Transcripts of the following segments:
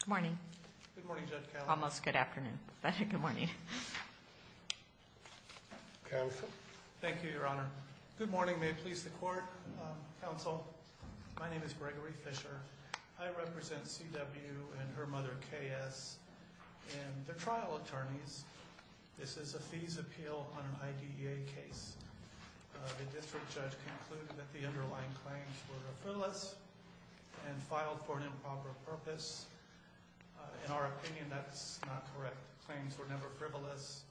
Good morning. Good morning, Judge Callahan. Almost good afternoon, but good morning. Counsel. Thank you, Your Honor. Good morning. May it please the Court, Counsel. My name is Gregory Fisher. I represent C. W. and her mother, K. S., and they're trial attorneys. This is a fees appeal on an IDEA case. The district judge concluded that the underlying claims were frivolous and filed for an improper purpose. In our opinion, that's not correct. Claims were never frivolous.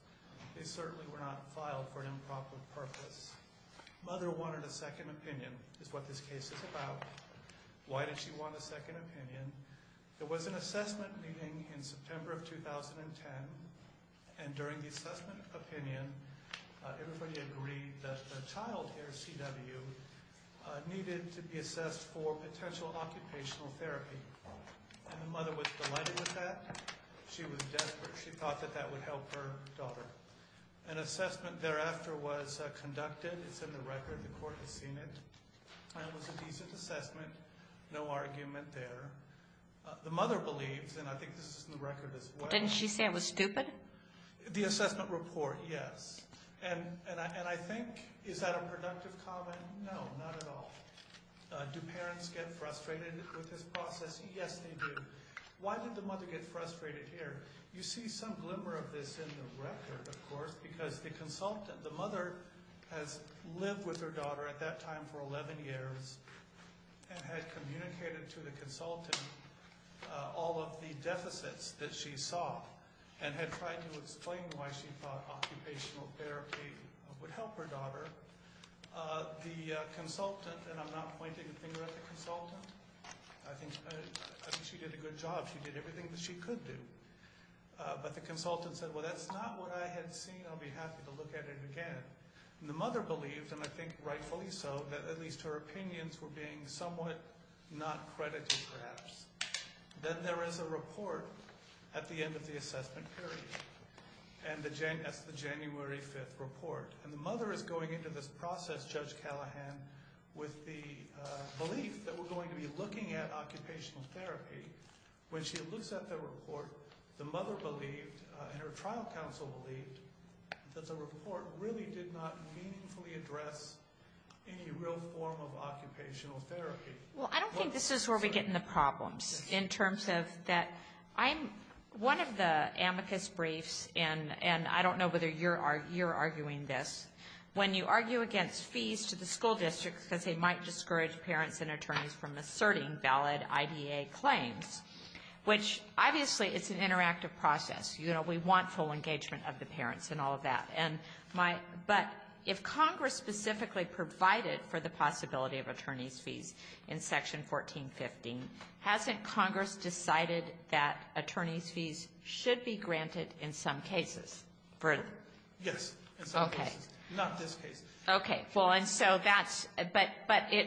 They certainly were not filed for an improper purpose. Mother wanted a second opinion, is what this case is about. Why did she want a second opinion? There was an assessment meeting in September of 2010, and during the assessment opinion, everybody agreed that the child here, C. W., needed to be assessed for potential occupational therapy. And the mother was delighted with that. She was desperate. She thought that that would help her daughter. An assessment thereafter was conducted. It's in the record. The Court has seen it. And it was a decent assessment. No argument there. The mother believes, and I think this is in the record as well. Didn't she say it was stupid? The assessment report, yes. And I think, is that a productive comment? They do. They do. They do. They do. They do. They do. They do. They do. They do. They do. They do. They do. They do. They do. They do. Yes, they do. Why did the mother get frustrated here? You see some glimmer of this in the record, of course, because the consultant, the mother has lived with her daughter at that time for 11 years and had communicated to the consultant all of the deficits that she saw and had tried to explain why she thought occupational therapy would help her daughter. The consultant, and I'm not pointing a finger at the consultant. I think she did a good job. She did everything that she could do. But the consultant said, well, that's not what I had seen. I'll be happy to look at it again. And the mother believed, and I think rightfully so, that at least her opinions were being somewhat not credited, perhaps. Then there is a report at the end of the assessment period. And that's the January 5th report. And the mother is going into this process, Judge Callahan, with the belief that we're going to be looking at occupational therapy. When she looks at the report, the mother believed, and her trial counsel believed, that the report really did not meaningfully address any real form of occupational therapy. Well, I don't think this is where we get in the problems in terms of that. One of the amicus briefs, and I don't know whether you're arguing this, when you argue against fees to the school district because they might discourage parents and attorneys from asserting valid IDA claims, which obviously it's an interactive process. You know, we want full engagement of the parents and all of that. But if Congress specifically provided for the possibility of attorney's fees in Section 1415, hasn't Congress decided that attorney's fees should be granted in some cases? Yes. Okay. In some cases. Not this case. Okay. Well, and so that's – but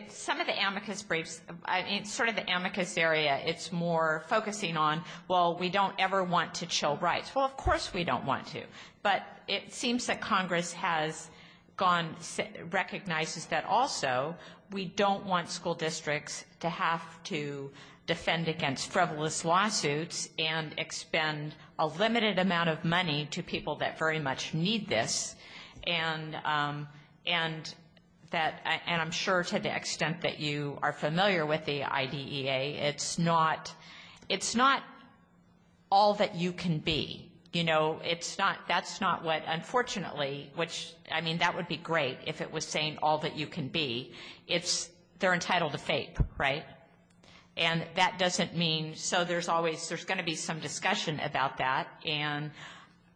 some of the amicus briefs – it's sort of the amicus area it's more focusing on, well, we don't ever want to chill rights. Well, of course we don't want to. But it seems that Congress has gone – recognizes that also we don't want school districts to have to defend against frivolous lawsuits and expend a limited amount of money to people that very much need this. And that – and I'm sure to the extent that you are familiar with the IDEA, it's not – it's not all that you can be. You know, it's not – that's not what unfortunately – which, I mean, that would be great all that you can be. It's – they're entitled to FAPE, right? And that doesn't mean – so there's always – there's going to be some discussion about that. And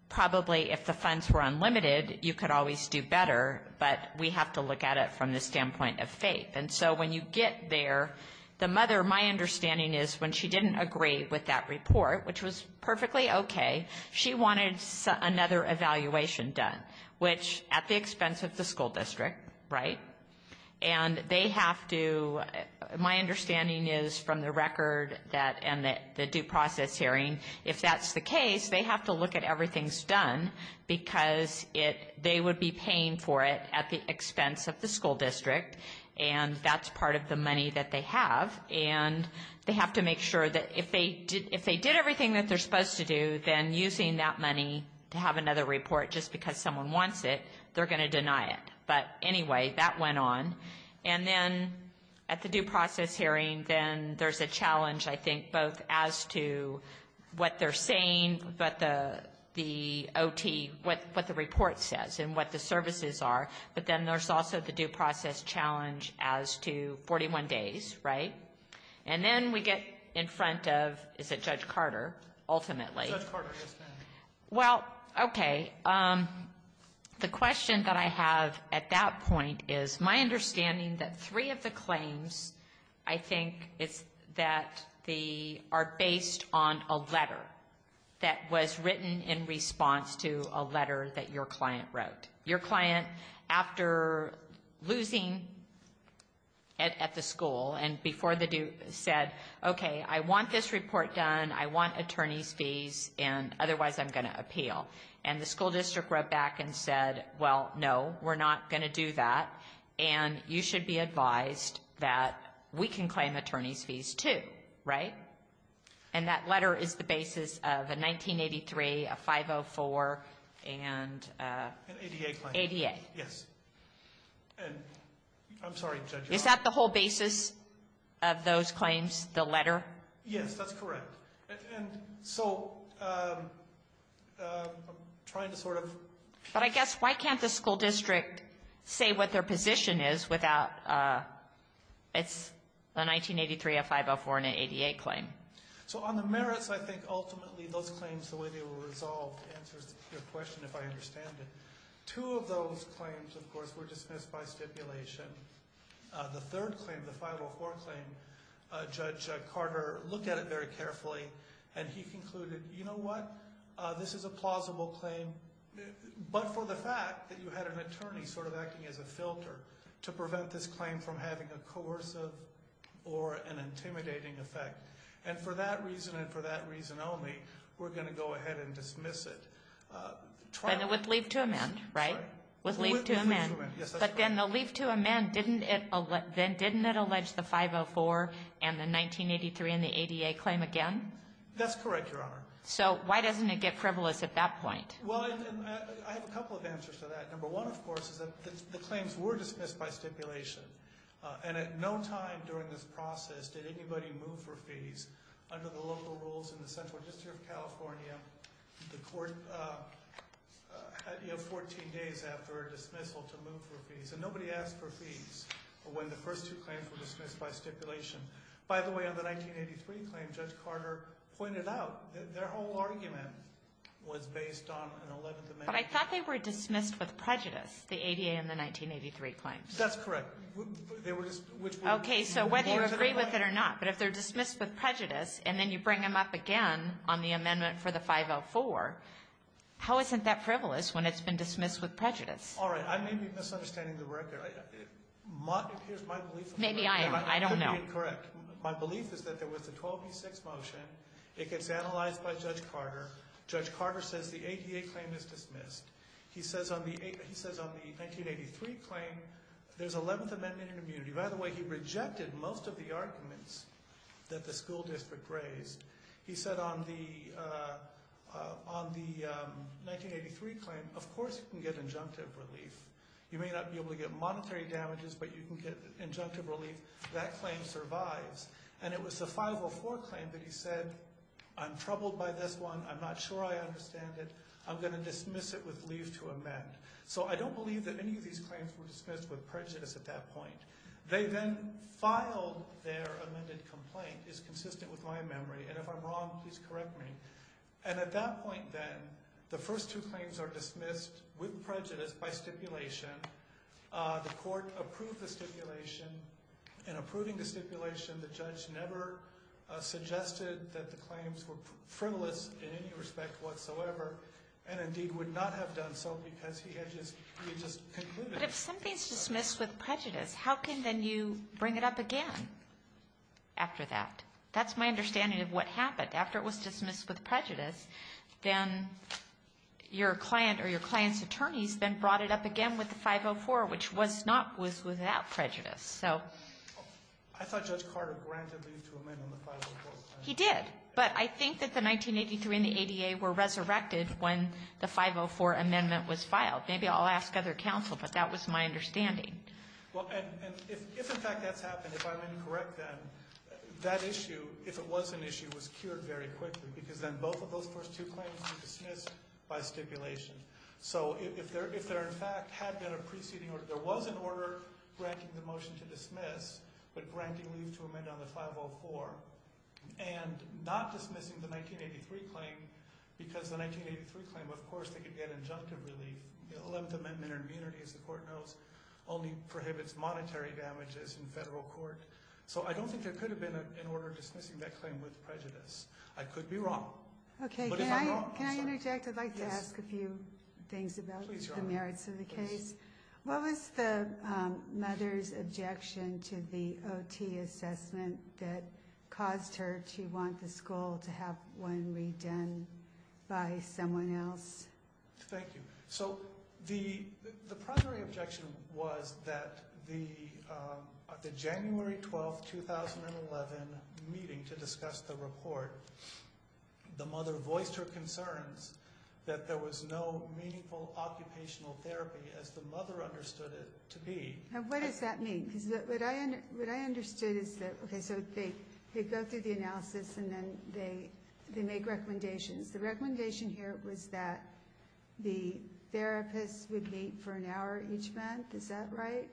probably if the funds were unlimited, you could always do better. But we have to look at it from the standpoint of FAPE. And so when you get there, the mother – my understanding is when she didn't agree with that report, which was perfectly okay, she wanted another evaluation done. Which, at the expense of the school district, right? And they have to – my understanding is from the record that – and the due process hearing, if that's the case, they have to look at everything's done because it – they would be paying for it at the expense of the school district. And that's part of the money that they have. And they have to make sure that if they did – if they did everything that they're using that money to have another report just because someone wants it, they're going to deny it. But anyway, that went on. And then at the due process hearing, then there's a challenge, I think, both as to what they're saying, but the OT – what the report says and what the services are. But then there's also the due process challenge as to 41 days, right? And then we get in front of – is it Judge Carter, ultimately? Well, okay. The question that I have at that point is my understanding that three of the claims, I think, it's that the – are based on a letter that was written in response to a letter that your client wrote. Your client, after losing at the school and before the due – said, okay, I want this otherwise I'm going to appeal. And the school district wrote back and said, well, no, we're not going to do that. And you should be advised that we can claim attorney's fees too, right? And that letter is the basis of a 1983, a 504, and – An ADA claim. ADA. Yes. And – I'm sorry, Judge – Is that the whole basis of those claims, the letter? Yes, that's correct. And so I'm trying to sort of – But I guess why can't the school district say what their position is without – it's a 1983, a 504, and an ADA claim. So on the merits, I think ultimately those claims, the way they were resolved, answers your question, if I understand it. Two of those claims, of course, were dismissed by stipulation. The third claim, the 504 claim, Judge Carter looked at it very carefully and he concluded, you know what, this is a plausible claim, but for the fact that you had an attorney sort of acting as a filter to prevent this claim from having a coercive or an intimidating effect. And for that reason and for that reason only, we're going to go ahead and dismiss it. With leave to amend, right? With leave to amend, yes, that's correct. Again, the leave to amend, didn't it allege the 504 and the 1983 and the ADA claim again? That's correct, Your Honor. So why doesn't it get frivolous at that point? Well, I have a couple of answers to that. Number one, of course, is that the claims were dismissed by stipulation. And at no time during this process did anybody move for fees under the local rules in the Central District of California. The court, you know, 14 days after a dismissal to move for fees. And nobody asked for fees when the first two claims were dismissed by stipulation. By the way, on the 1983 claim, Judge Carter pointed out that their whole argument was based on an 11th amendment. But I thought they were dismissed with prejudice, the ADA and the 1983 claims. That's correct. Okay, so whether you agree with it or not, but if they're dismissed with prejudice and then you bring them up again on the amendment for the 504, how isn't that frivolous when it's been dismissed with prejudice? All right, I may be misunderstanding the record. Here's my belief. Maybe I am. I don't know. My belief is that there was a 12B6 motion. It gets analyzed by Judge Carter. Judge Carter says the ADA claim is dismissed. He says on the 1983 claim, there's an 11th amendment in immunity. By the way, he rejected most of the arguments that the school district raised. He said on the 1983 claim, of course you can get injunctive relief. You may not be able to get monetary damages, but you can get injunctive relief. That claim survives. And it was the 504 claim that he said, I'm troubled by this one. I'm not sure I understand it. I'm going to dismiss it with leave to amend. So I don't believe that any of these claims were dismissed with prejudice at that point. They then filed their amended complaint. It's consistent with my memory. And if I'm wrong, please correct me. And at that point then, the first two claims are dismissed with prejudice by stipulation. The court approved the stipulation. In approving the stipulation, the judge never suggested that the claims were frivolous in any respect whatsoever. And indeed would not have done so because he had just concluded. But if something is dismissed with prejudice, how can then you bring it up again after that? That's my understanding of what happened. After it was dismissed with prejudice, then your client or your client's attorneys then brought it up again with the 504, which was not without prejudice. I thought Judge Carter granted leave to amend on the 504. He did. But I think that the 1983 and the ADA were resurrected when the 504 amendment was filed. Maybe I'll ask other counsel, but that was my understanding. Well, and if in fact that's happened, if I'm incorrect then, that issue, if it was an issue, was cured very quickly. Because then both of those first two claims were dismissed by stipulation. So if there in fact had been a preceding order, there was an order granting the motion to dismiss, but granting leave to amend on the 504. And not dismissing the 1983 claim because the 1983 claim, of course, they could get injunctive relief. The 11th Amendment or immunity, as the court knows, only prohibits monetary damages in federal court. So I don't think there could have been an order dismissing that claim with prejudice. I could be wrong. But if I'm wrong, I'm sorry. Can I interject? I'd like to ask a few things about the merits of the case. What was the mother's objection to the OT assessment that caused her to want the school to have one redone by someone else? Thank you. So the primary objection was that the January 12, 2011 meeting to discuss the report, the mother voiced her concerns that there was no meaningful occupational therapy as the mother understood it to be. And what does that mean? Because what I understood is that, okay, so they go through the analysis and then they make recommendations. The recommendation here was that the therapist would meet for an hour each month. Is that right?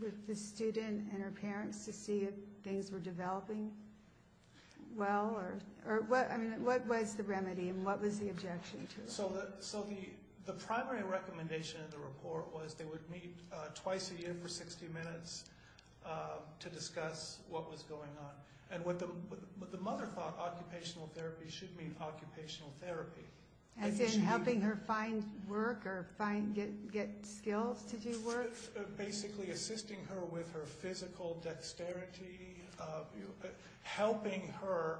With the student and her parents to see if things were developing well? I mean, what was the remedy and what was the objection to it? So the primary recommendation of the report was they would meet twice a year for 60 minutes to discuss what was going on. And what the mother thought, occupational therapy should mean occupational therapy. As in helping her find work or get skills to do work? Basically assisting her with her physical dexterity, helping her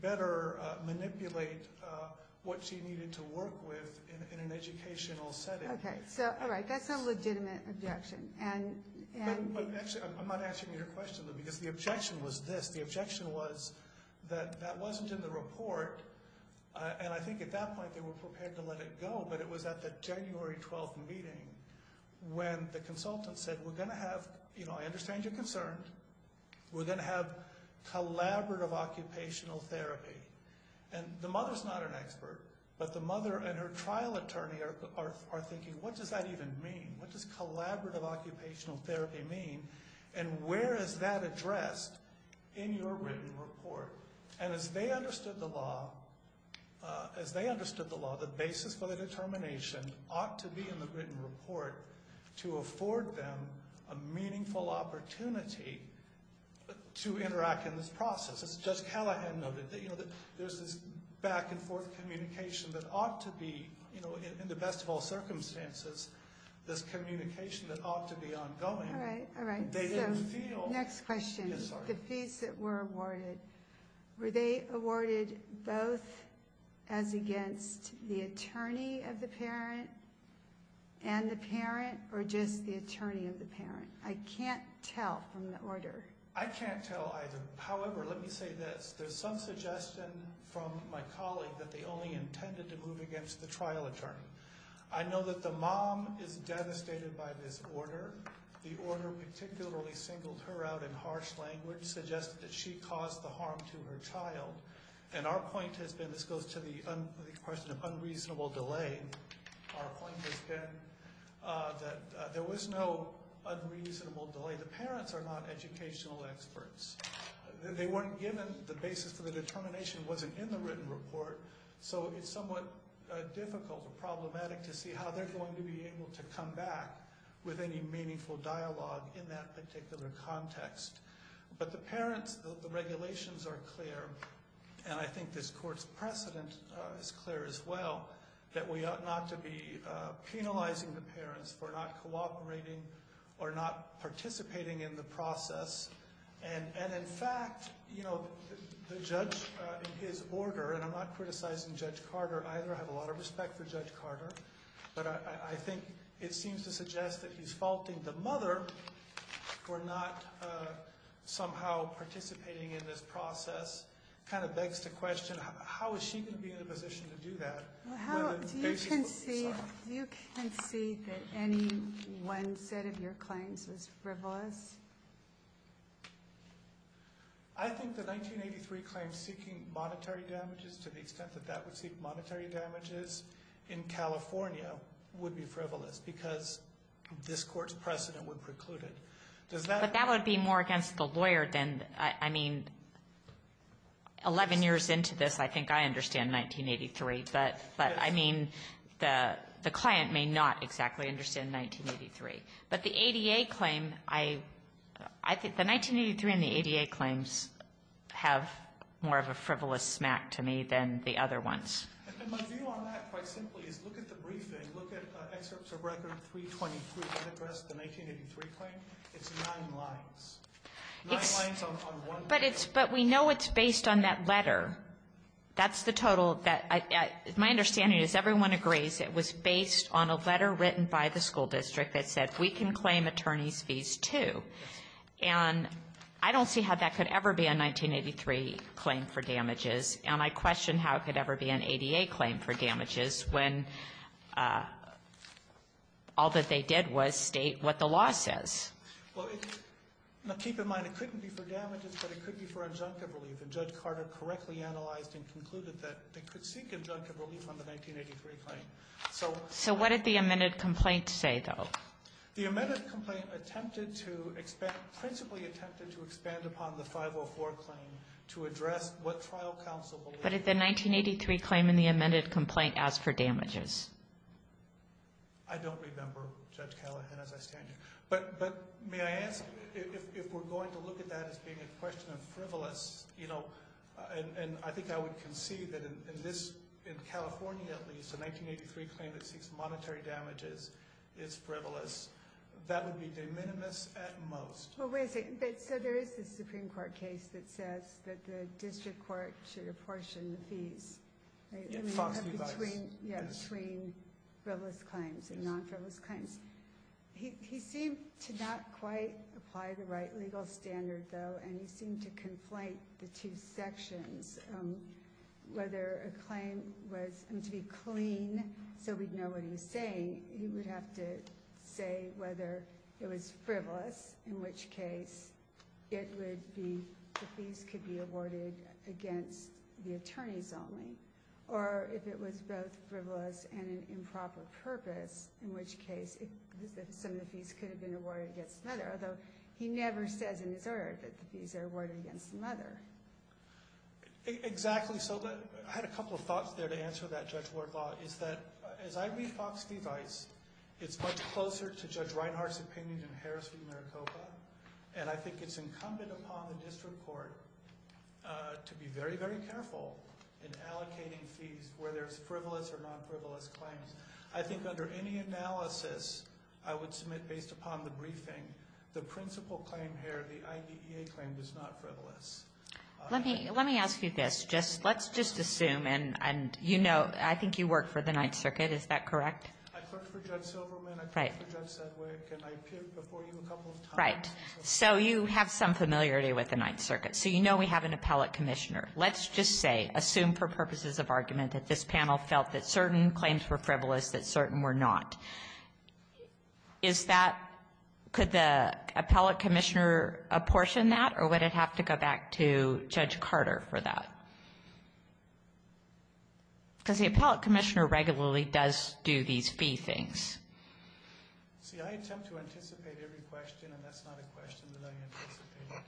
better manipulate what she needed to work with in an educational setting. Okay. So, all right. That's a legitimate objection. Actually, I'm not answering your question, because the objection was this. The objection was that that wasn't in the report. And I think at that point they were prepared to let it go. But it was at the January 12th meeting when the consultant said, we're going to have, you know, I understand you're concerned. We're going to have collaborative occupational therapy. And the mother's not an expert, but the mother and her trial attorney are thinking, what does that even mean? What does collaborative occupational therapy mean? And where is that addressed in your written report? And as they understood the law, as they understood the law, the basis for the determination ought to be in the written report to afford them a meaningful opportunity to interact in this process. As Judge Callahan noted, there's this back and forth communication that ought to be, you know, in the best of all circumstances, this communication that ought to be ongoing. Next question. The fees that were awarded, were they awarded both as against the attorney of the parent and the parent, or just the attorney of the parent? I can't tell from the order. I can't tell either. However, let me say this. There's some suggestion from my colleague that they only intended to move against the trial attorney. I know that the mom is devastated by this order. The order particularly singled her out in harsh language, suggested that she caused the harm to her child. And our point has been, this goes to the question of unreasonable delay. Our point has been that there was no unreasonable delay. The parents are not educational experts. They weren't given the basis for the determination wasn't in the written report. So it's somewhat difficult or problematic to see how they're going to be able to come back with any meaningful dialogue in that particular context. But the parents, the regulations are clear, and I think this court's precedent is clear as well, that we ought not to be penalizing the parents for not cooperating or not participating in the process. And in fact, the judge, his order, and I'm not criticizing Judge Carter either. I have a lot of respect for Judge Carter. But I think it seems to suggest that he's faulting the mother for not somehow participating in this process. It kind of begs the question, how is she going to be in a position to do that? Do you concede that any one set of your claims was frivolous? I think the 1983 claim seeking monetary damages, to the extent that that would seek monetary damages in California, would be frivolous because this court's precedent would preclude it. But that would be more against the lawyer than, I mean, 11 years into this, I think I understand 1983. But I mean, the client may not exactly understand 1983. But the ADA claim, I think the 1983 and the ADA claims have more of a frivolous smack to me than the other ones. And my view on that, quite simply, is look at the briefing. Look at excerpts of Record 323 that address the 1983 claim. It's nine lines. Nine lines on one page. But we know it's based on that letter. That's the total. My understanding is everyone agrees it was based on a letter written by the school district that said, we can claim attorney's fees, too. And I don't see how that could ever be a 1983 claim for damages. And I question how it could ever be an ADA claim for damages when all that they did was state what the law says. Well, keep in mind, it couldn't be for damages, but it could be for injunctive relief. And Judge Carter correctly analyzed and concluded that they could seek injunctive relief on the 1983 claim. So what did the amended complaint say, though? The amended complaint attempted to expand, principally attempted to expand upon the 504 claim to address what trial counsel believed. But did the 1983 claim in the amended complaint ask for damages? I don't remember, Judge Callahan, as I stand here. But may I ask, if we're going to look at that as being a question of frivolous, you know, and I think I would concede that in this, in California at least, a 1983 claim that seeks monetary damages is frivolous. That would be de minimis at most. Well, wait a second. So there is this Supreme Court case that says that the district court should apportion the fees. Yeah, FOX device. Between frivolous claims and non-frivolous claims. He seemed to not quite apply the right legal standard, though. And he seemed to conflate the two sections. Whether a claim was to be clean, so we'd know what he was saying. He would have to say whether it was frivolous, in which case it would be, the fees could be awarded against the attorneys only. Or if it was both frivolous and an improper purpose, in which case, some of the fees could have been awarded against another. Although, he never says in his order that the fees are awarded against another. Exactly. So I had a couple of thoughts there to answer that, Judge Wardlaw, is that as I read FOX device, it's much closer to Judge Reinhart's opinion than Harris v. Maricopa. And I think it's incumbent upon the district court to be very, very careful in allocating fees, whether it's frivolous or non-frivolous claims. I think under any analysis I would submit based upon the briefing, the principal claim here, the IDEA claim, is not frivolous. Let me ask you this. Let's just assume, and you know, I think you work for the Ninth Circuit, is that correct? I clerked for Judge Silverman, I clerked for Judge Sedgwick, and I appeared before you a couple of times. So you have some familiarity with the Ninth Circuit. So you know we have an appellate commissioner. Let's just say, assume for purposes of argument, that this panel felt that certain claims were frivolous, that certain were not. Is that, could the appellate commissioner apportion that, or would it have to go back to Judge Carter for that? Because the appellate commissioner regularly does do these fee things. See, I attempt to anticipate every question, and that's not a question that I anticipate.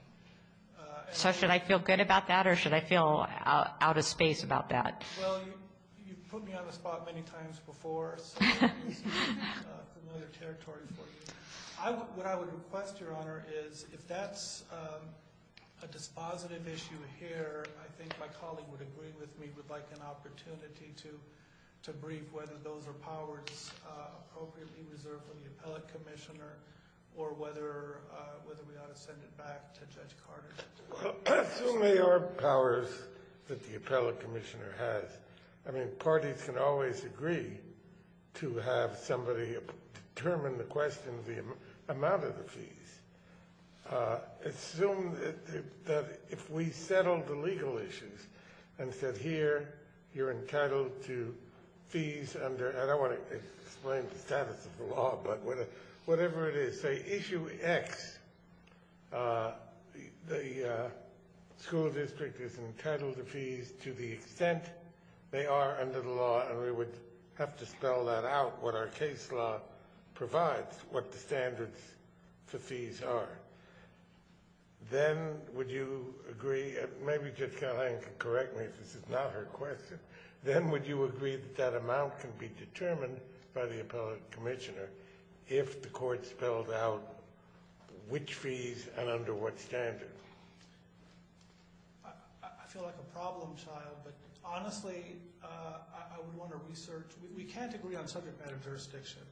So should I feel good about that, or should I feel out of space about that? Well, you've put me on the spot many times before, so this is familiar territory for you. What I would request, Your Honor, is if that's a dispositive issue here, I think my colleague would agree with me, would like an opportunity to brief whether those are powers appropriately reserved for the appellate commissioner, or whether we ought to send it back to Judge Carter. Assume they are powers that the appellate commissioner has. I mean, parties can always agree to have somebody determine the question of the amount of the fees. Assume that if we settled the legal issues, and said, here, you're entitled to fees under, I don't want to explain the status of the law, but whatever it is. Say issue X, the school district is entitled to fees to the extent they are under the law, and we would have to spell that out, what our case law provides, what the standards for fees are. Then, would you agree, maybe Judge Callahan can correct me if this is not her question, then would you agree that that amount can be determined by the appellate commissioner if the court spells out which fees and under what standards? I feel like a problem child, but honestly, I would want to research. We can't agree on subject matter jurisdiction.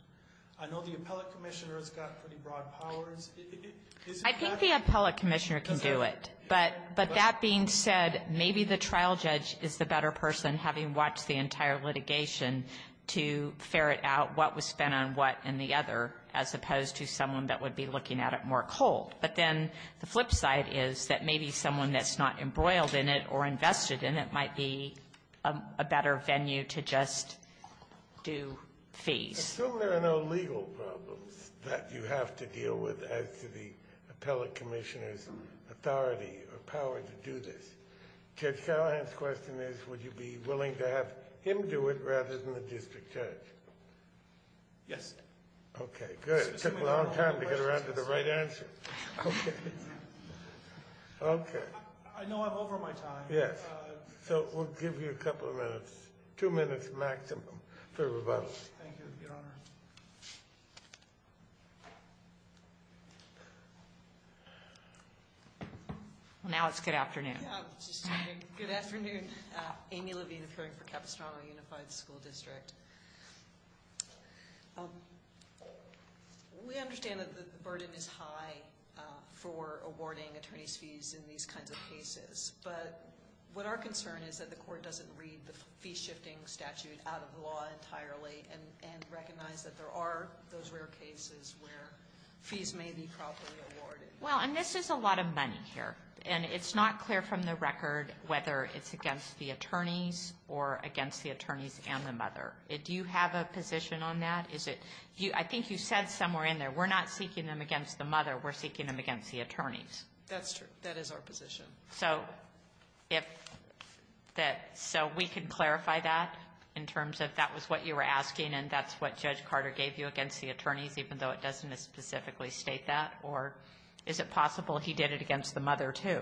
I know the appellate commissioner has got pretty broad powers. I think the appellate commissioner can do it, but that being said, maybe the trial judge is the better person, having watched the entire litigation, to ferret out what was spent on what and the other, as opposed to someone that would be looking at it more cold. But then the flip side is that maybe someone that's not embroiled in it or invested in it might be a better venue to just do fees. Assume there are no legal problems that you have to deal with as to the appellate commissioner's authority or power to do this. Judge Callahan's question is would you be willing to have him do it rather than the district judge? Yes. Okay, good. It took a long time to get around to the right answer. Okay. Okay. I know I'm over my time. Yes. So we'll give you a couple of minutes, two minutes maximum for rebuttal. Thank you, Your Honor. Now it's good afternoon. Good afternoon. Amy Levine, appearing for Capistrano Unified School District. We understand that the burden is high for awarding attorney's fees in these kinds of cases, but what our concern is that the court doesn't read the fee-shifting statute out of the law entirely and recognize that there are those rare cases where fees may be properly awarded. Well, and this is a lot of money here, and it's not clear from the record whether it's against the attorneys or against the attorneys and the mother. Do you have a position on that? I think you said somewhere in there we're not seeking them against the mother, we're seeking them against the attorneys. That's true. That is our position. So we can clarify that in terms of that was what you were asking and that's what Judge Carter gave you against the attorneys, even though it doesn't specifically state that? Or is it possible he did it against the mother, too?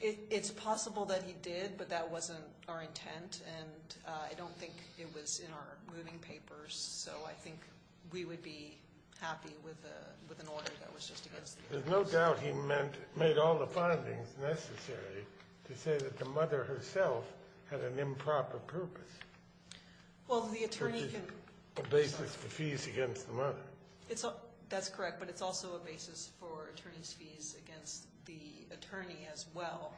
It's possible that he did, but that wasn't our intent, and I don't think it was in our moving papers. So I think we would be happy with an order that was just against the attorneys. There's no doubt he made all the findings necessary to say that the mother herself had an improper purpose. Well, the attorney can ---- Which is a basis for fees against the mother. That's correct. But it's also a basis for attorneys' fees against the attorney as well.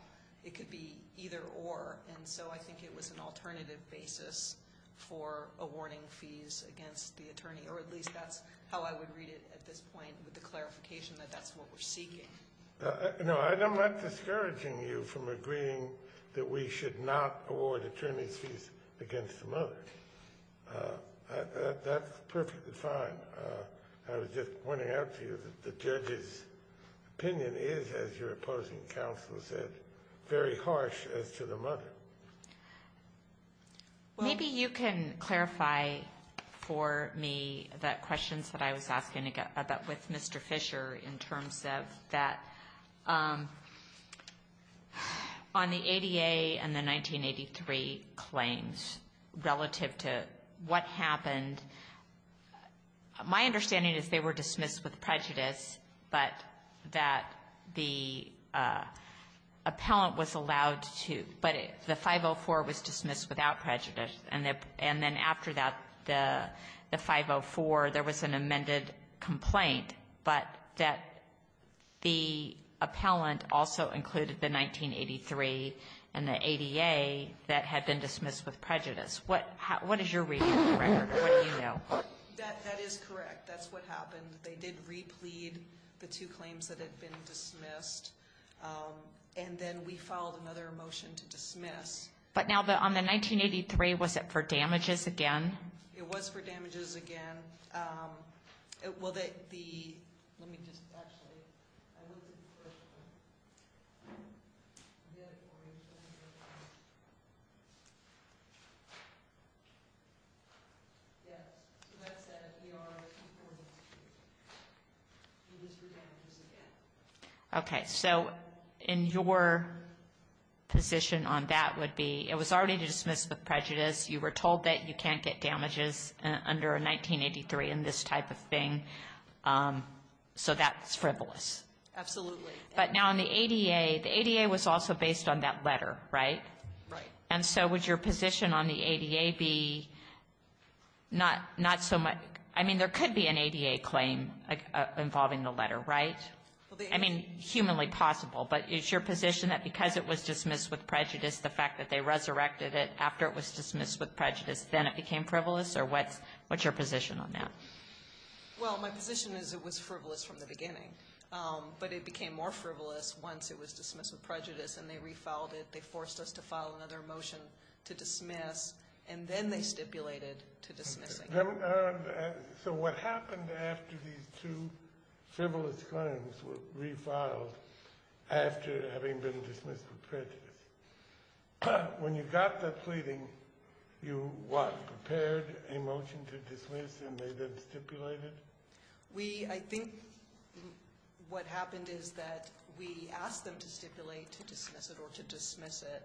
It could be either or. And so I think it was an alternative basis for awarding fees against the attorney, or at least that's how I would read it at this point with the clarification that that's what we're seeking. No, I'm not discouraging you from agreeing that we should not award attorneys' fees against the mother. That's perfectly fine. I was just pointing out to you that the judge's opinion is, as your opposing counsel said, very harsh as to the mother. Maybe you can clarify for me the questions that I was asking about with Mr. Fisher in terms of that on the ADA and the 1983 claims relative to what happened. My understanding is they were dismissed with prejudice, but that the appellant was allowed to ---- but the 504 was dismissed without prejudice. And then after that, the 504, there was an amended complaint. But that the appellant also included the 1983 and the ADA that had been dismissed with prejudice. What is your reading of the record? What do you know? That is correct. That's what happened. They did replead the two claims that had been dismissed. And then we filed another motion to dismiss. But now on the 1983, was it for damages again? It was for damages again. Well, the ---- let me just actually ---- Okay. So in your position on that would be it was already dismissed with prejudice. You were told that you can't get damages under a 1983 and this type of thing. So that's frivolous. Absolutely. But now on the ADA, the ADA was also based on that letter, right? Right. And so would your position on the ADA be not so much ---- I mean, there could be an ADA claim involving the letter, right? I mean, humanly possible. But is your position that because it was dismissed with prejudice, the fact that they resurrected it after it was dismissed with prejudice, then it became frivolous? Or what's your position on that? Well, my position is it was frivolous from the beginning. But it became more frivolous once it was dismissed with prejudice and they refiled it. They forced us to file another motion to dismiss, and then they stipulated to dismiss again. So what happened after these two frivolous claims were refiled after having been dismissed with prejudice? When you got the pleading, you what, prepared a motion to dismiss and they then stipulated? We, I think what happened is that we asked them to stipulate to dismiss it or to dismiss it,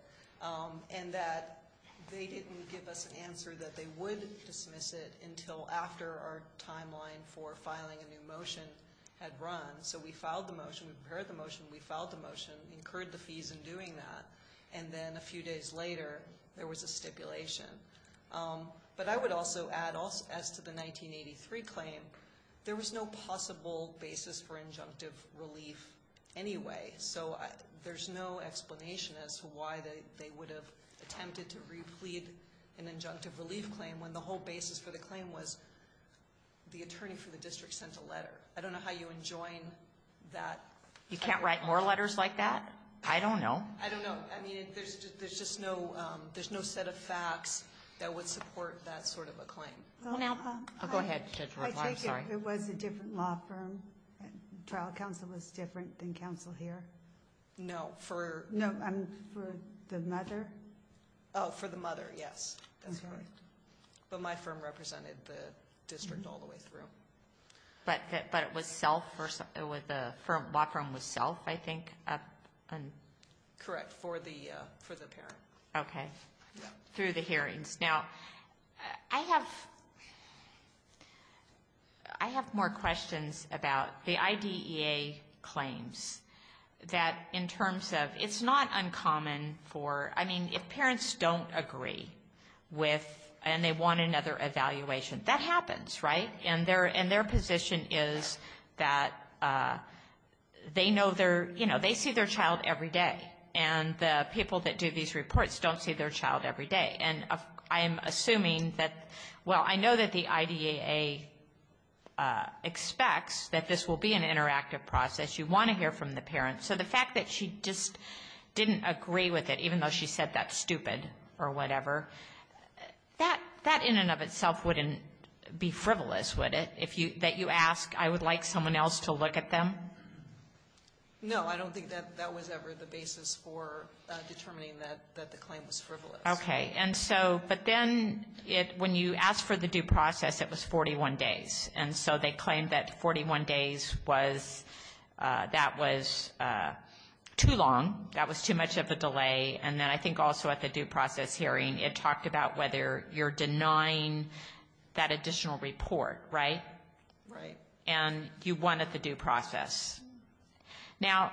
and that they didn't give us an answer that they would dismiss it until after our timeline for filing a new motion had run. So we filed the motion, we prepared the motion, we filed the motion, incurred the fees in doing that, and then a few days later there was a stipulation. But I would also add, as to the 1983 claim, there was no possible basis for injunctive relief anyway. So there's no explanation as to why they would have attempted to replead an injunctive relief claim when the whole basis for the claim was the attorney for the district sent a letter. I don't know how you enjoin that. You can't write more letters like that? I don't know. I don't know. I mean, there's just no, there's no set of facts that would support that sort of a claim. I'll go ahead. I take it it was a different law firm. Trial counsel was different than counsel here? No. No, for the mother? Oh, for the mother, yes. But my firm represented the district all the way through. But it was self, the law firm was self, I think? Correct, for the parent. Okay. Through the hearings. Now, I have more questions about the IDEA claims that in terms of it's not uncommon for, I mean, if parents don't agree with and they want another evaluation, that happens, right? And their position is that they know their, you know, they see their child every day. And the people that do these reports don't see their child every day. And I'm assuming that, well, I know that the IDEA expects that this will be an interactive process. You want to hear from the parents. So the fact that she just didn't agree with it, even though she said that's stupid or whatever, that in and of itself wouldn't be frivolous, would it, that you ask, I would like someone else to look at them? No, I don't think that that was ever the basis for determining that the claim was frivolous. Okay. And so, but then when you asked for the due process, it was 41 days. And so they claimed that 41 days was, that was too long, that was too much of a delay. And then I think also at the due process hearing, it talked about whether you're denying that additional report, right? Right. And you won at the due process. Now,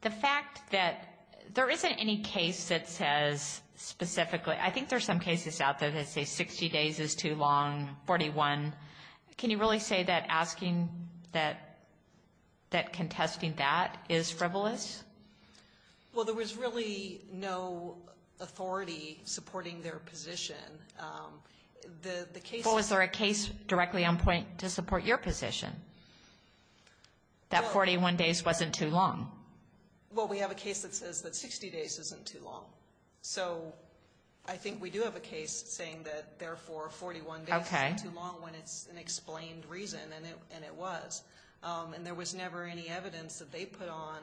the fact that there isn't any case that says specifically, I think there's some cases out there that say 60 days is too long, 41. Can you really say that asking that, that contesting that is frivolous? Well, there was really no authority supporting their position. But was there a case directly on point to support your position, that 41 days wasn't too long? Well, we have a case that says that 60 days isn't too long. So I think we do have a case saying that, therefore, 41 days isn't too long when it's an explained reason, and it was. And there was never any evidence that they put on,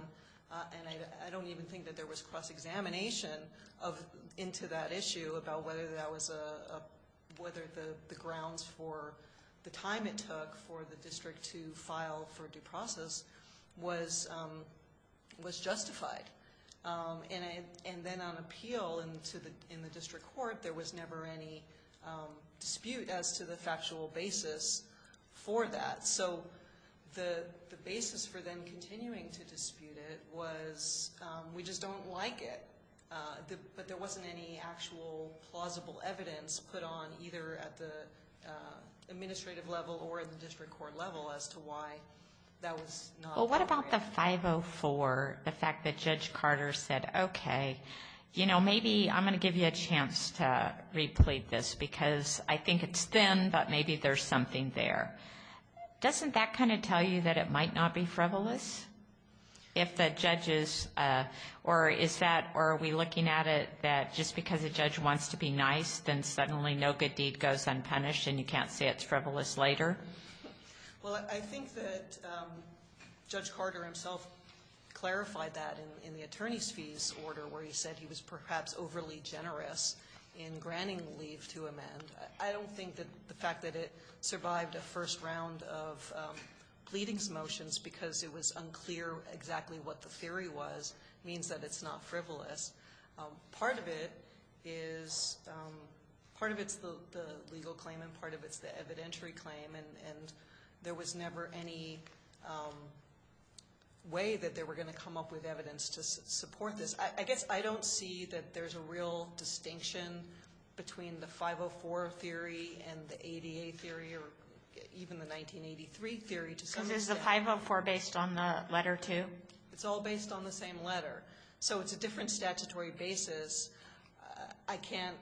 and I don't even think that there was cross-examination into that issue about whether the grounds for the time it took for the district to file for due process was justified. And then on appeal in the district court, there was never any dispute as to the factual basis for that. So the basis for them continuing to dispute it was we just don't like it. But there wasn't any actual plausible evidence put on either at the administrative level or at the district court level as to why that was not appropriate. Well, what about the 504, the fact that Judge Carter said, okay, you know, maybe I'm going to give you a chance to replete this because I think it's thin, but maybe there's something there. Doesn't that kind of tell you that it might not be frivolous if the judge is or is that or are we looking at it that just because a judge wants to be nice, then suddenly no good deed goes unpunished and you can't say it's frivolous later? Well, I think that Judge Carter himself clarified that in the attorney's fees order where he said he was perhaps overly generous in granting leave to amend. I don't think that the fact that it survived a first round of pleadings motions because it was unclear exactly what the theory was means that it's not frivolous. Part of it is part of it's the legal claim and part of it's the evidentiary claim and there was never any way that they were going to come up with evidence to support this. I guess I don't see that there's a real distinction between the 504 theory and the ADA theory or even the 1983 theory to some extent. Is the 504 based on the letter too? It's all based on the same letter. So it's a different statutory basis. I can't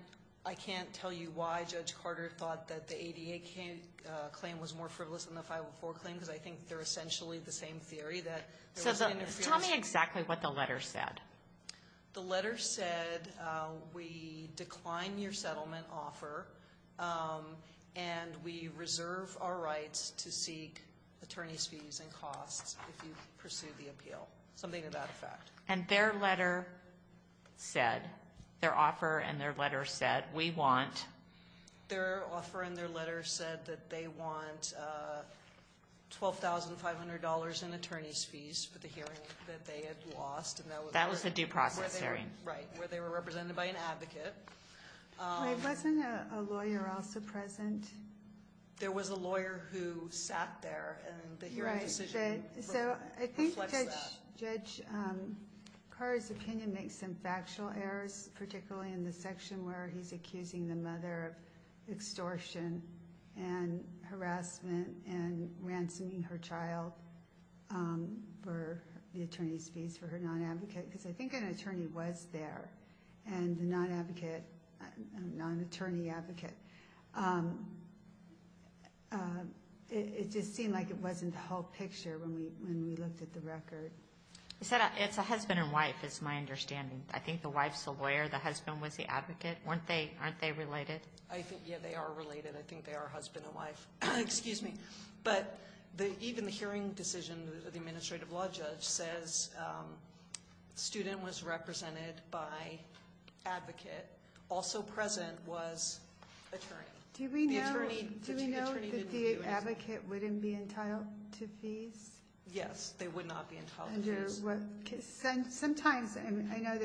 tell you why Judge Carter thought that the ADA claim was more frivolous than the 504 claim because I think they're essentially the same theory that there was interference. Tell me exactly what the letter said. The letter said we decline your settlement offer and we reserve our rights to seek attorney's fees and costs if you pursue the appeal. Something to that effect. And their letter said, their offer and their letter said, we want? Their offer and their letter said that they want $12,500 in attorney's fees for the hearing that they had lost. That was a due process hearing. Right, where they were represented by an advocate. Wasn't a lawyer also present? There was a lawyer who sat there and the hearing decision reflects that. So I think Judge Carter's opinion makes some factual errors, particularly in the section where he's accusing the mother of extortion and harassment and ransoming her child for the attorney's fees for her non-advocate. Because I think an attorney was there and the non-advocate, non-attorney advocate. It just seemed like it wasn't the whole picture when we looked at the record. You said it's a husband and wife is my understanding. I think the wife's the lawyer, the husband was the advocate. Aren't they related? Yeah, they are related. I think they are husband and wife. Excuse me. But even the hearing decision, the administrative law judge says student was represented by advocate. The advocate also present was attorney. Do we know that the advocate wouldn't be entitled to fees? Yes, they would not be entitled to fees. Sometimes I know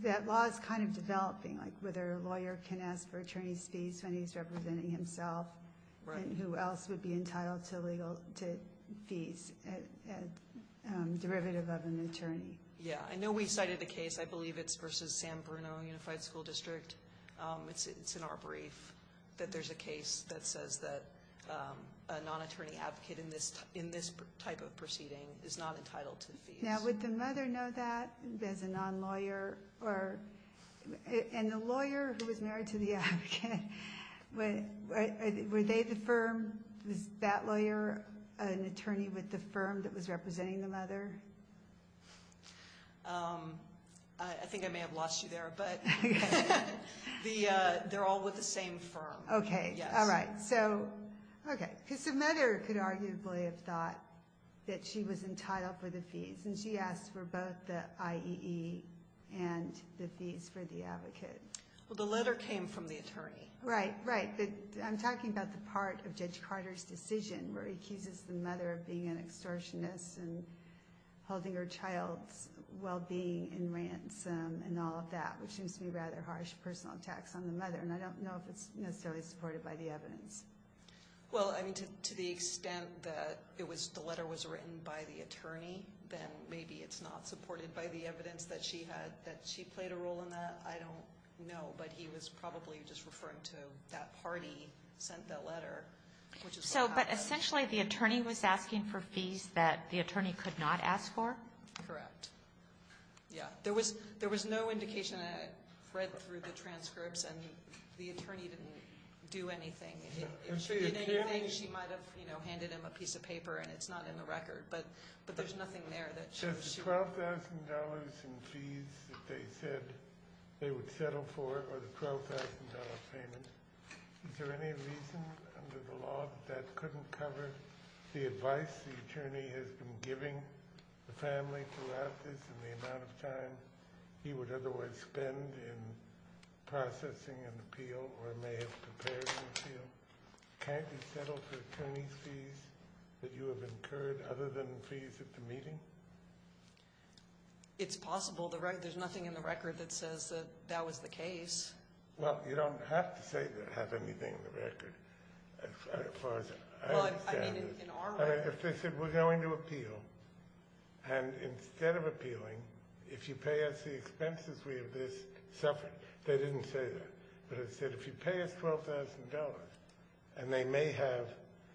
that law is kind of developing, like whether a lawyer can ask for attorney's fees when he's representing himself and who else would be entitled to fees derivative of an attorney. Yeah. I know we cited a case. I believe it's versus San Bruno Unified School District. It's in our brief that there's a case that says that a non-attorney advocate in this type of proceeding is not entitled to fees. Now, would the mother know that as a non-lawyer? And the lawyer who was married to the advocate, were they the firm? Was that lawyer an attorney with the firm that was representing the mother? I think I may have lost you there, but they're all with the same firm. Okay. All right. So, okay. Because the mother could arguably have thought that she was entitled for the fees, and she asked for both the IEE and the fees for the advocate. Well, the letter came from the attorney. Right, right. I'm talking about the part of Judge Carter's decision where he accuses the mother of being an extortionist and holding her child's well-being in ransom and all of that, which seems to be rather harsh personal attacks on the mother, and I don't know if it's necessarily supported by the evidence. Well, I mean, to the extent that the letter was written by the attorney, then maybe it's not supported by the evidence that she played a role in that. I don't know, but he was probably just referring to that party sent that letter. So, but essentially the attorney was asking for fees that the attorney could not ask for? Correct. Yeah. There was no indication. I read through the transcripts, and the attorney didn't do anything. If she did anything, she might have, you know, handed him a piece of paper, and it's not in the record, but there's nothing there. The $12,000 in fees that they said they would settle for or the $12,000 payment, is there any reason under the law that that couldn't cover the advice the attorney has been giving the family throughout this and the amount of time he would otherwise spend in processing an appeal or may have prepared an appeal? Can't you settle for attorney's fees that you have incurred other than fees at the meeting? It's possible. There's nothing in the record that says that that was the case. Well, you don't have to say that it has anything in the record as far as I understand it. Well, I mean, in our record. I mean, if they said, we're going to appeal, and instead of appealing, if you pay us the expenses, we have this separate. They didn't say that. But it said if you pay us $12,000, and they may have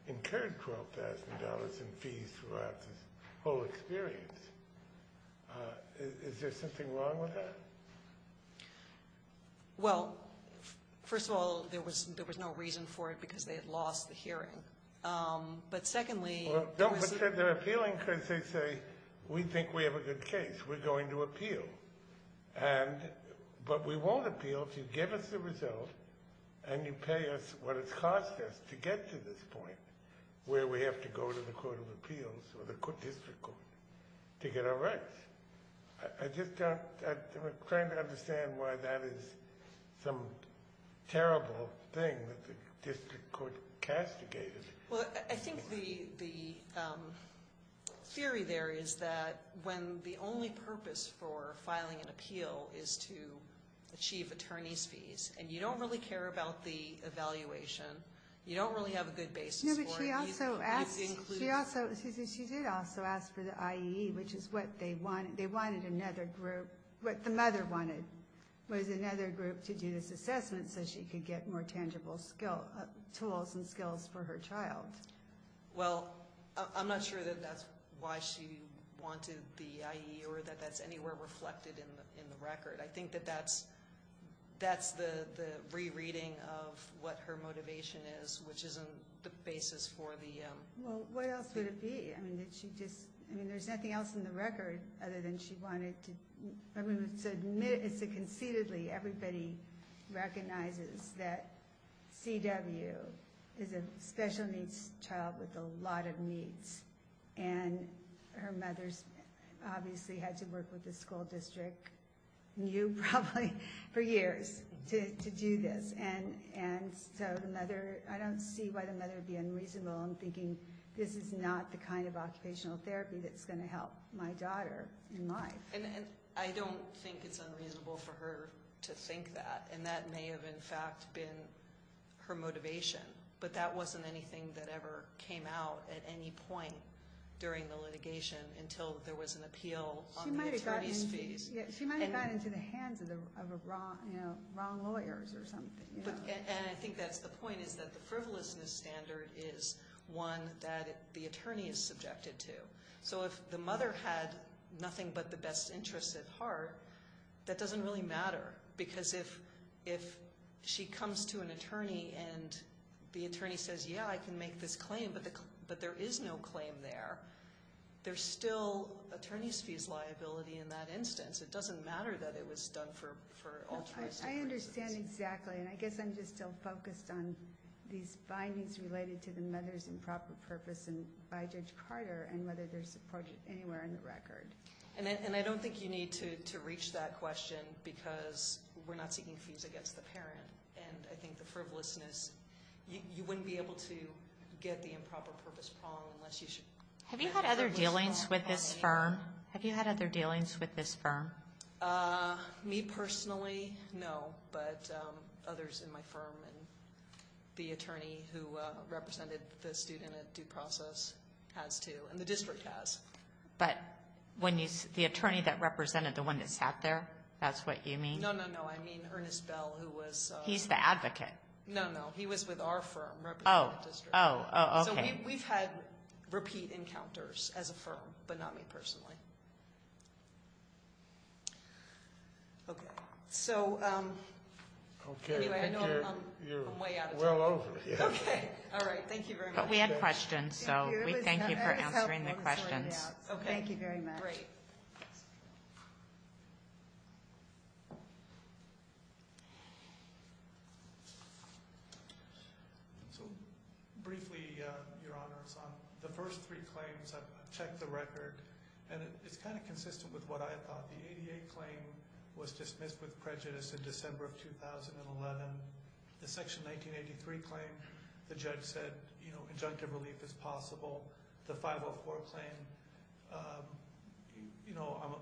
incurred $12,000 in fees throughout this whole experience, is there something wrong with that? Well, first of all, there was no reason for it because they had lost the hearing. But secondly, there was no reason. Well, they're appealing because they say, we think we have a good case. We're going to appeal. But we won't appeal if you give us the result and you pay us what it's cost us to get to this point where we have to go to the Court of Appeals or the district court to get our rights. I'm just trying to understand why that is some terrible thing that the district court castigated. Well, I think the theory there is that when the only purpose for filing an appeal is to achieve attorney's fees, and you don't really care about the evaluation, you don't really have a good basis for it. No, but she also asked for the IAE, which is what they wanted. They wanted another group. What the mother wanted was another group to do this assessment so she could get more tangible tools and skills for her child. Well, I'm not sure that that's why she wanted the IAE or that that's anywhere reflected in the record. I think that that's the rereading of what her motivation is, which isn't the basis for the – Well, what else would it be? I mean, did she just – I mean, there's nothing else in the record other than she wanted to – Conceitedly, everybody recognizes that C.W. is a special needs child with a lot of needs, and her mother's obviously had to work with the school district, you probably, for years to do this. And so the mother – I don't see why the mother would be unreasonable in thinking this is not the kind of occupational therapy that's going to help my daughter in life. I don't think it's unreasonable for her to think that, and that may have, in fact, been her motivation. But that wasn't anything that ever came out at any point during the litigation until there was an appeal on the attorney's fees. She might have gotten into the hands of the wrong lawyers or something. And I think that's the point, is that the frivolousness standard is one that the attorney is subjected to. So if the mother had nothing but the best interests at heart, that doesn't really matter. Because if she comes to an attorney and the attorney says, yeah, I can make this claim, but there is no claim there, there's still attorney's fees liability in that instance. It doesn't matter that it was done for altruistic reasons. I understand exactly, and I guess I'm just still focused on these findings related to the mother's improper purpose by Judge Carter and whether there's a project anywhere in the record. And I don't think you need to reach that question because we're not seeking fees against the parent. And I think the frivolousness, you wouldn't be able to get the improper purpose wrong unless you should. Have you had other dealings with this firm? Me personally, no. But others in my firm and the attorney who represented the student at due process has too, and the district has. But the attorney that represented the one that sat there, that's what you mean? No, no, no. I mean Ernest Bell, who was the advocate. No, no. He was with our firm representing the district. Oh, oh, okay. So we've had repeat encounters as a firm, but not me personally. Okay. So anyway, I know I'm way out of time. You're well over. Okay. All right. Thank you very much. But we had questions, so we thank you for answering the questions. Thank you very much. Great. So briefly, Your Honors, on the first three claims, I've checked the record, and it's kind of consistent with what I had thought. The 88 claim was dismissed with prejudice in December of 2011. The Section 1983 claim, the judge said, you know, injunctive relief is possible. The 504 claim, you know, I'm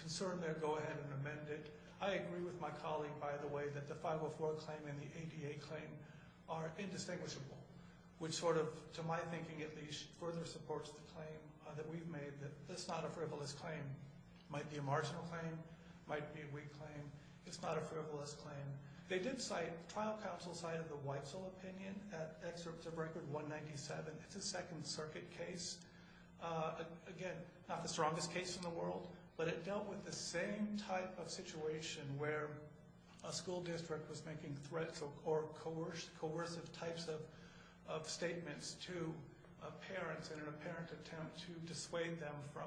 concerned there, go ahead and amend it. I agree with my colleague, by the way, that the 504 claim and the 88 claim are indistinguishable, which sort of, to my thinking at least, further supports the claim that we've made that it's not a frivolous claim. It might be a marginal claim. It might be a weak claim. It's not a frivolous claim. They did cite, trial counsel cited the Weitzel opinion at Excerpt of Record 197. It's a Second Circuit case. Again, not the strongest case in the world, but it dealt with the same type of situation where a school district was making threats or coercive types of statements to parents in an apparent attempt to dissuade them from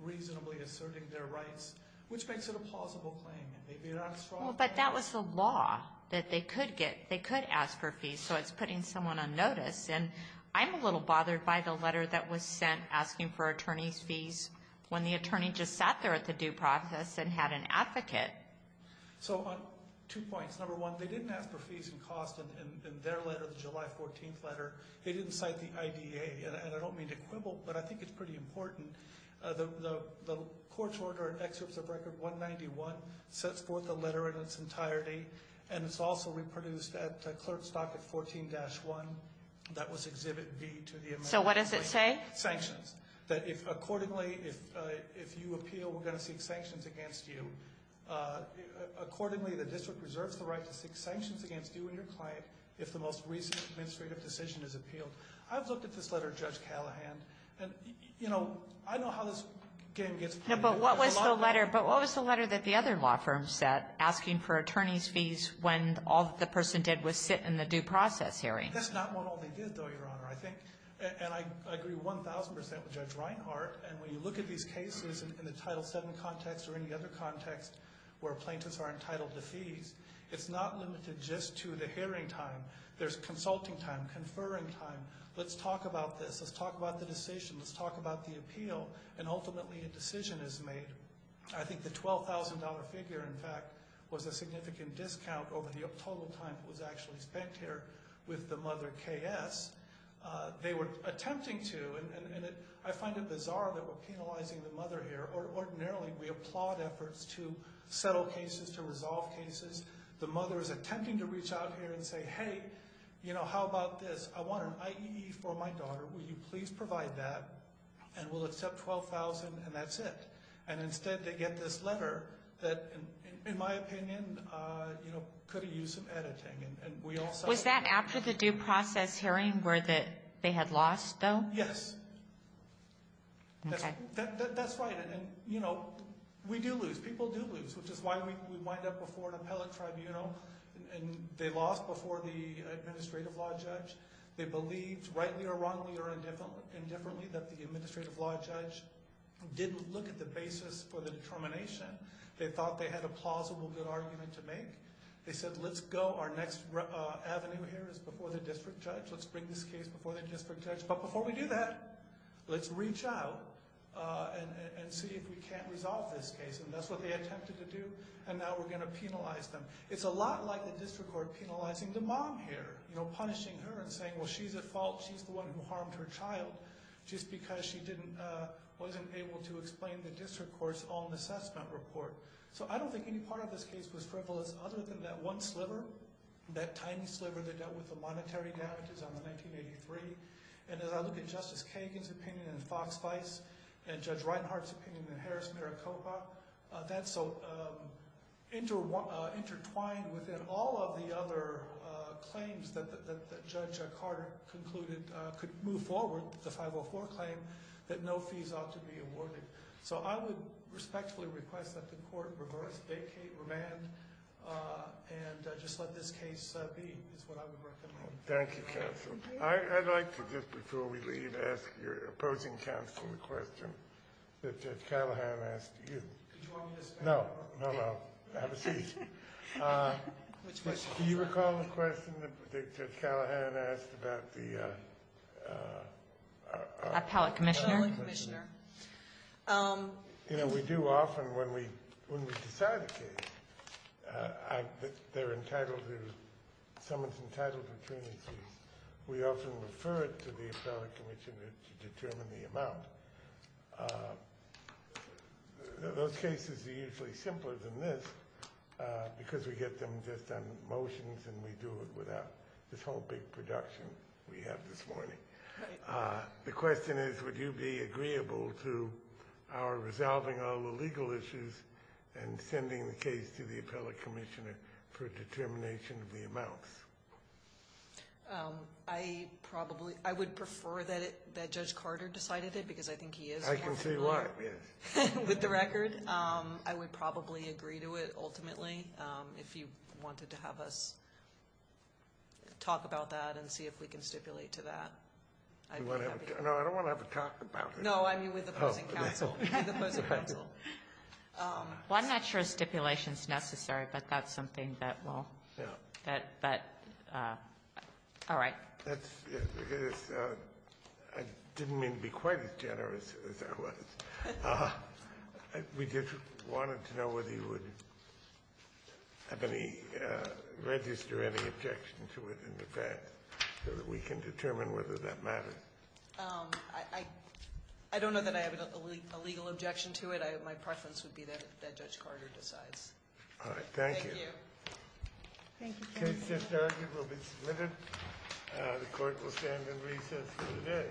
reasonably asserting their rights, which makes it a plausible claim. Maybe not a strong claim. Well, but that was the law that they could get. They could ask for fees, so it's putting someone on notice. And I'm a little bothered by the letter that was sent asking for attorneys' fees when the attorney just sat there at the due process and had an advocate. So, two points. Number one, they didn't ask for fees and costs in their letter, the July 14th letter. They didn't cite the IDA, and I don't mean to quibble, but I think it's pretty important. The court's order at Excerpt of Record 191 sets forth the letter in its entirety, and it's also reproduced at the clerk's docket 14-1. That was Exhibit B to the amendment. So what does it say? Sanctions. That if accordingly, if you appeal, we're going to seek sanctions against you. Accordingly, the district reserves the right to seek sanctions against you and your client if the most recent administrative decision is appealed. I've looked at this letter of Judge Callahan. And, you know, I know how this game gets played. But what was the letter that the other law firm sent asking for attorneys' fees when all the person did was sit in the due process hearing? That's not what all they did, though, Your Honor. And I agree 1,000 percent with Judge Reinhart. And when you look at these cases in the Title VII context or any other context where plaintiffs are entitled to fees, it's not limited just to the hearing time. There's consulting time, conferring time. Let's talk about this. Let's talk about the decision. Let's talk about the appeal. And ultimately, a decision is made. I think the $12,000 figure, in fact, was a significant discount over the total time that was actually spent here with the mother, K.S. They were attempting to, and I find it bizarre that we're penalizing the mother here. Ordinarily, we applaud efforts to settle cases, to resolve cases. The mother is attempting to reach out here and say, hey, you know, how about this? I want an IEE for my daughter. Will you please provide that? And we'll accept $12,000, and that's it. And instead, they get this letter that, in my opinion, could have used some editing. Was that after the due process hearing where they had lost, though? Yes. That's right. And, you know, we do lose. People do lose, which is why we wind up before an appellate tribunal. They lost before the administrative law judge. They believed, rightly or wrongly or indifferently, that the administrative law judge didn't look at the basis for the determination. They thought they had a plausible good argument to make. They said, let's go. Our next avenue here is before the district judge. Let's bring this case before the district judge. But before we do that, let's reach out and see if we can't resolve this case. And that's what they attempted to do, and now we're going to penalize them. It's a lot like the district court penalizing the mom here, you know, punishing her and saying, well, she's at fault. She's the one who harmed her child just because she wasn't able to explain the district court's own assessment report. So I don't think any part of this case was frivolous other than that one sliver, that tiny sliver that dealt with the monetary damages on the 1983. And as I look at Justice Kagan's opinion in Fox-Vice and Judge Reinhart's opinion in Harris-Maricopa, that's so intertwined within all of the other claims that Judge Carter concluded could move forward, the 504 claim, that no fees ought to be awarded. So I would respectfully request that the court reverse vacate, remand, and just let this case be, is what I would recommend. Thank you, counsel. I'd like to, just before we leave, ask your opposing counsel the question that Judge Callahan asked you. No, no, no. Have a seat. Do you recall the question that Judge Callahan asked about the appellate commissioner? You know, we do often when we decide a case. They're entitled to, someone's entitled to attorney's fees. We often refer it to the appellate commissioner to determine the amount. Those cases are usually simpler than this because we get them just on motions and we do it without this whole big production we have this morning. The question is, would you be agreeable to our resolving all the legal issues and sending the case to the appellate commissioner for determination of the amounts? I probably, I would prefer that Judge Carter decided it because I think he is. I can see why, yes. With the record, I would probably agree to it, ultimately, if you wanted to have us talk about that and see if we can stipulate to that. No, I don't want to have a talk about it. No, I mean with opposing counsel. With opposing counsel. Well, I'm not sure stipulation's necessary, but that's something that will, that, but, all right. I didn't mean to be quite as generous as I was. We just wanted to know whether you would have any, register any objection to it in the past so that we can determine whether that matters. I don't know that I have a legal objection to it. My preference would be that Judge Carter decides. All right. Thank you. Thank you. The case is adjourned. It will be submitted. The court will stand in recess for the day.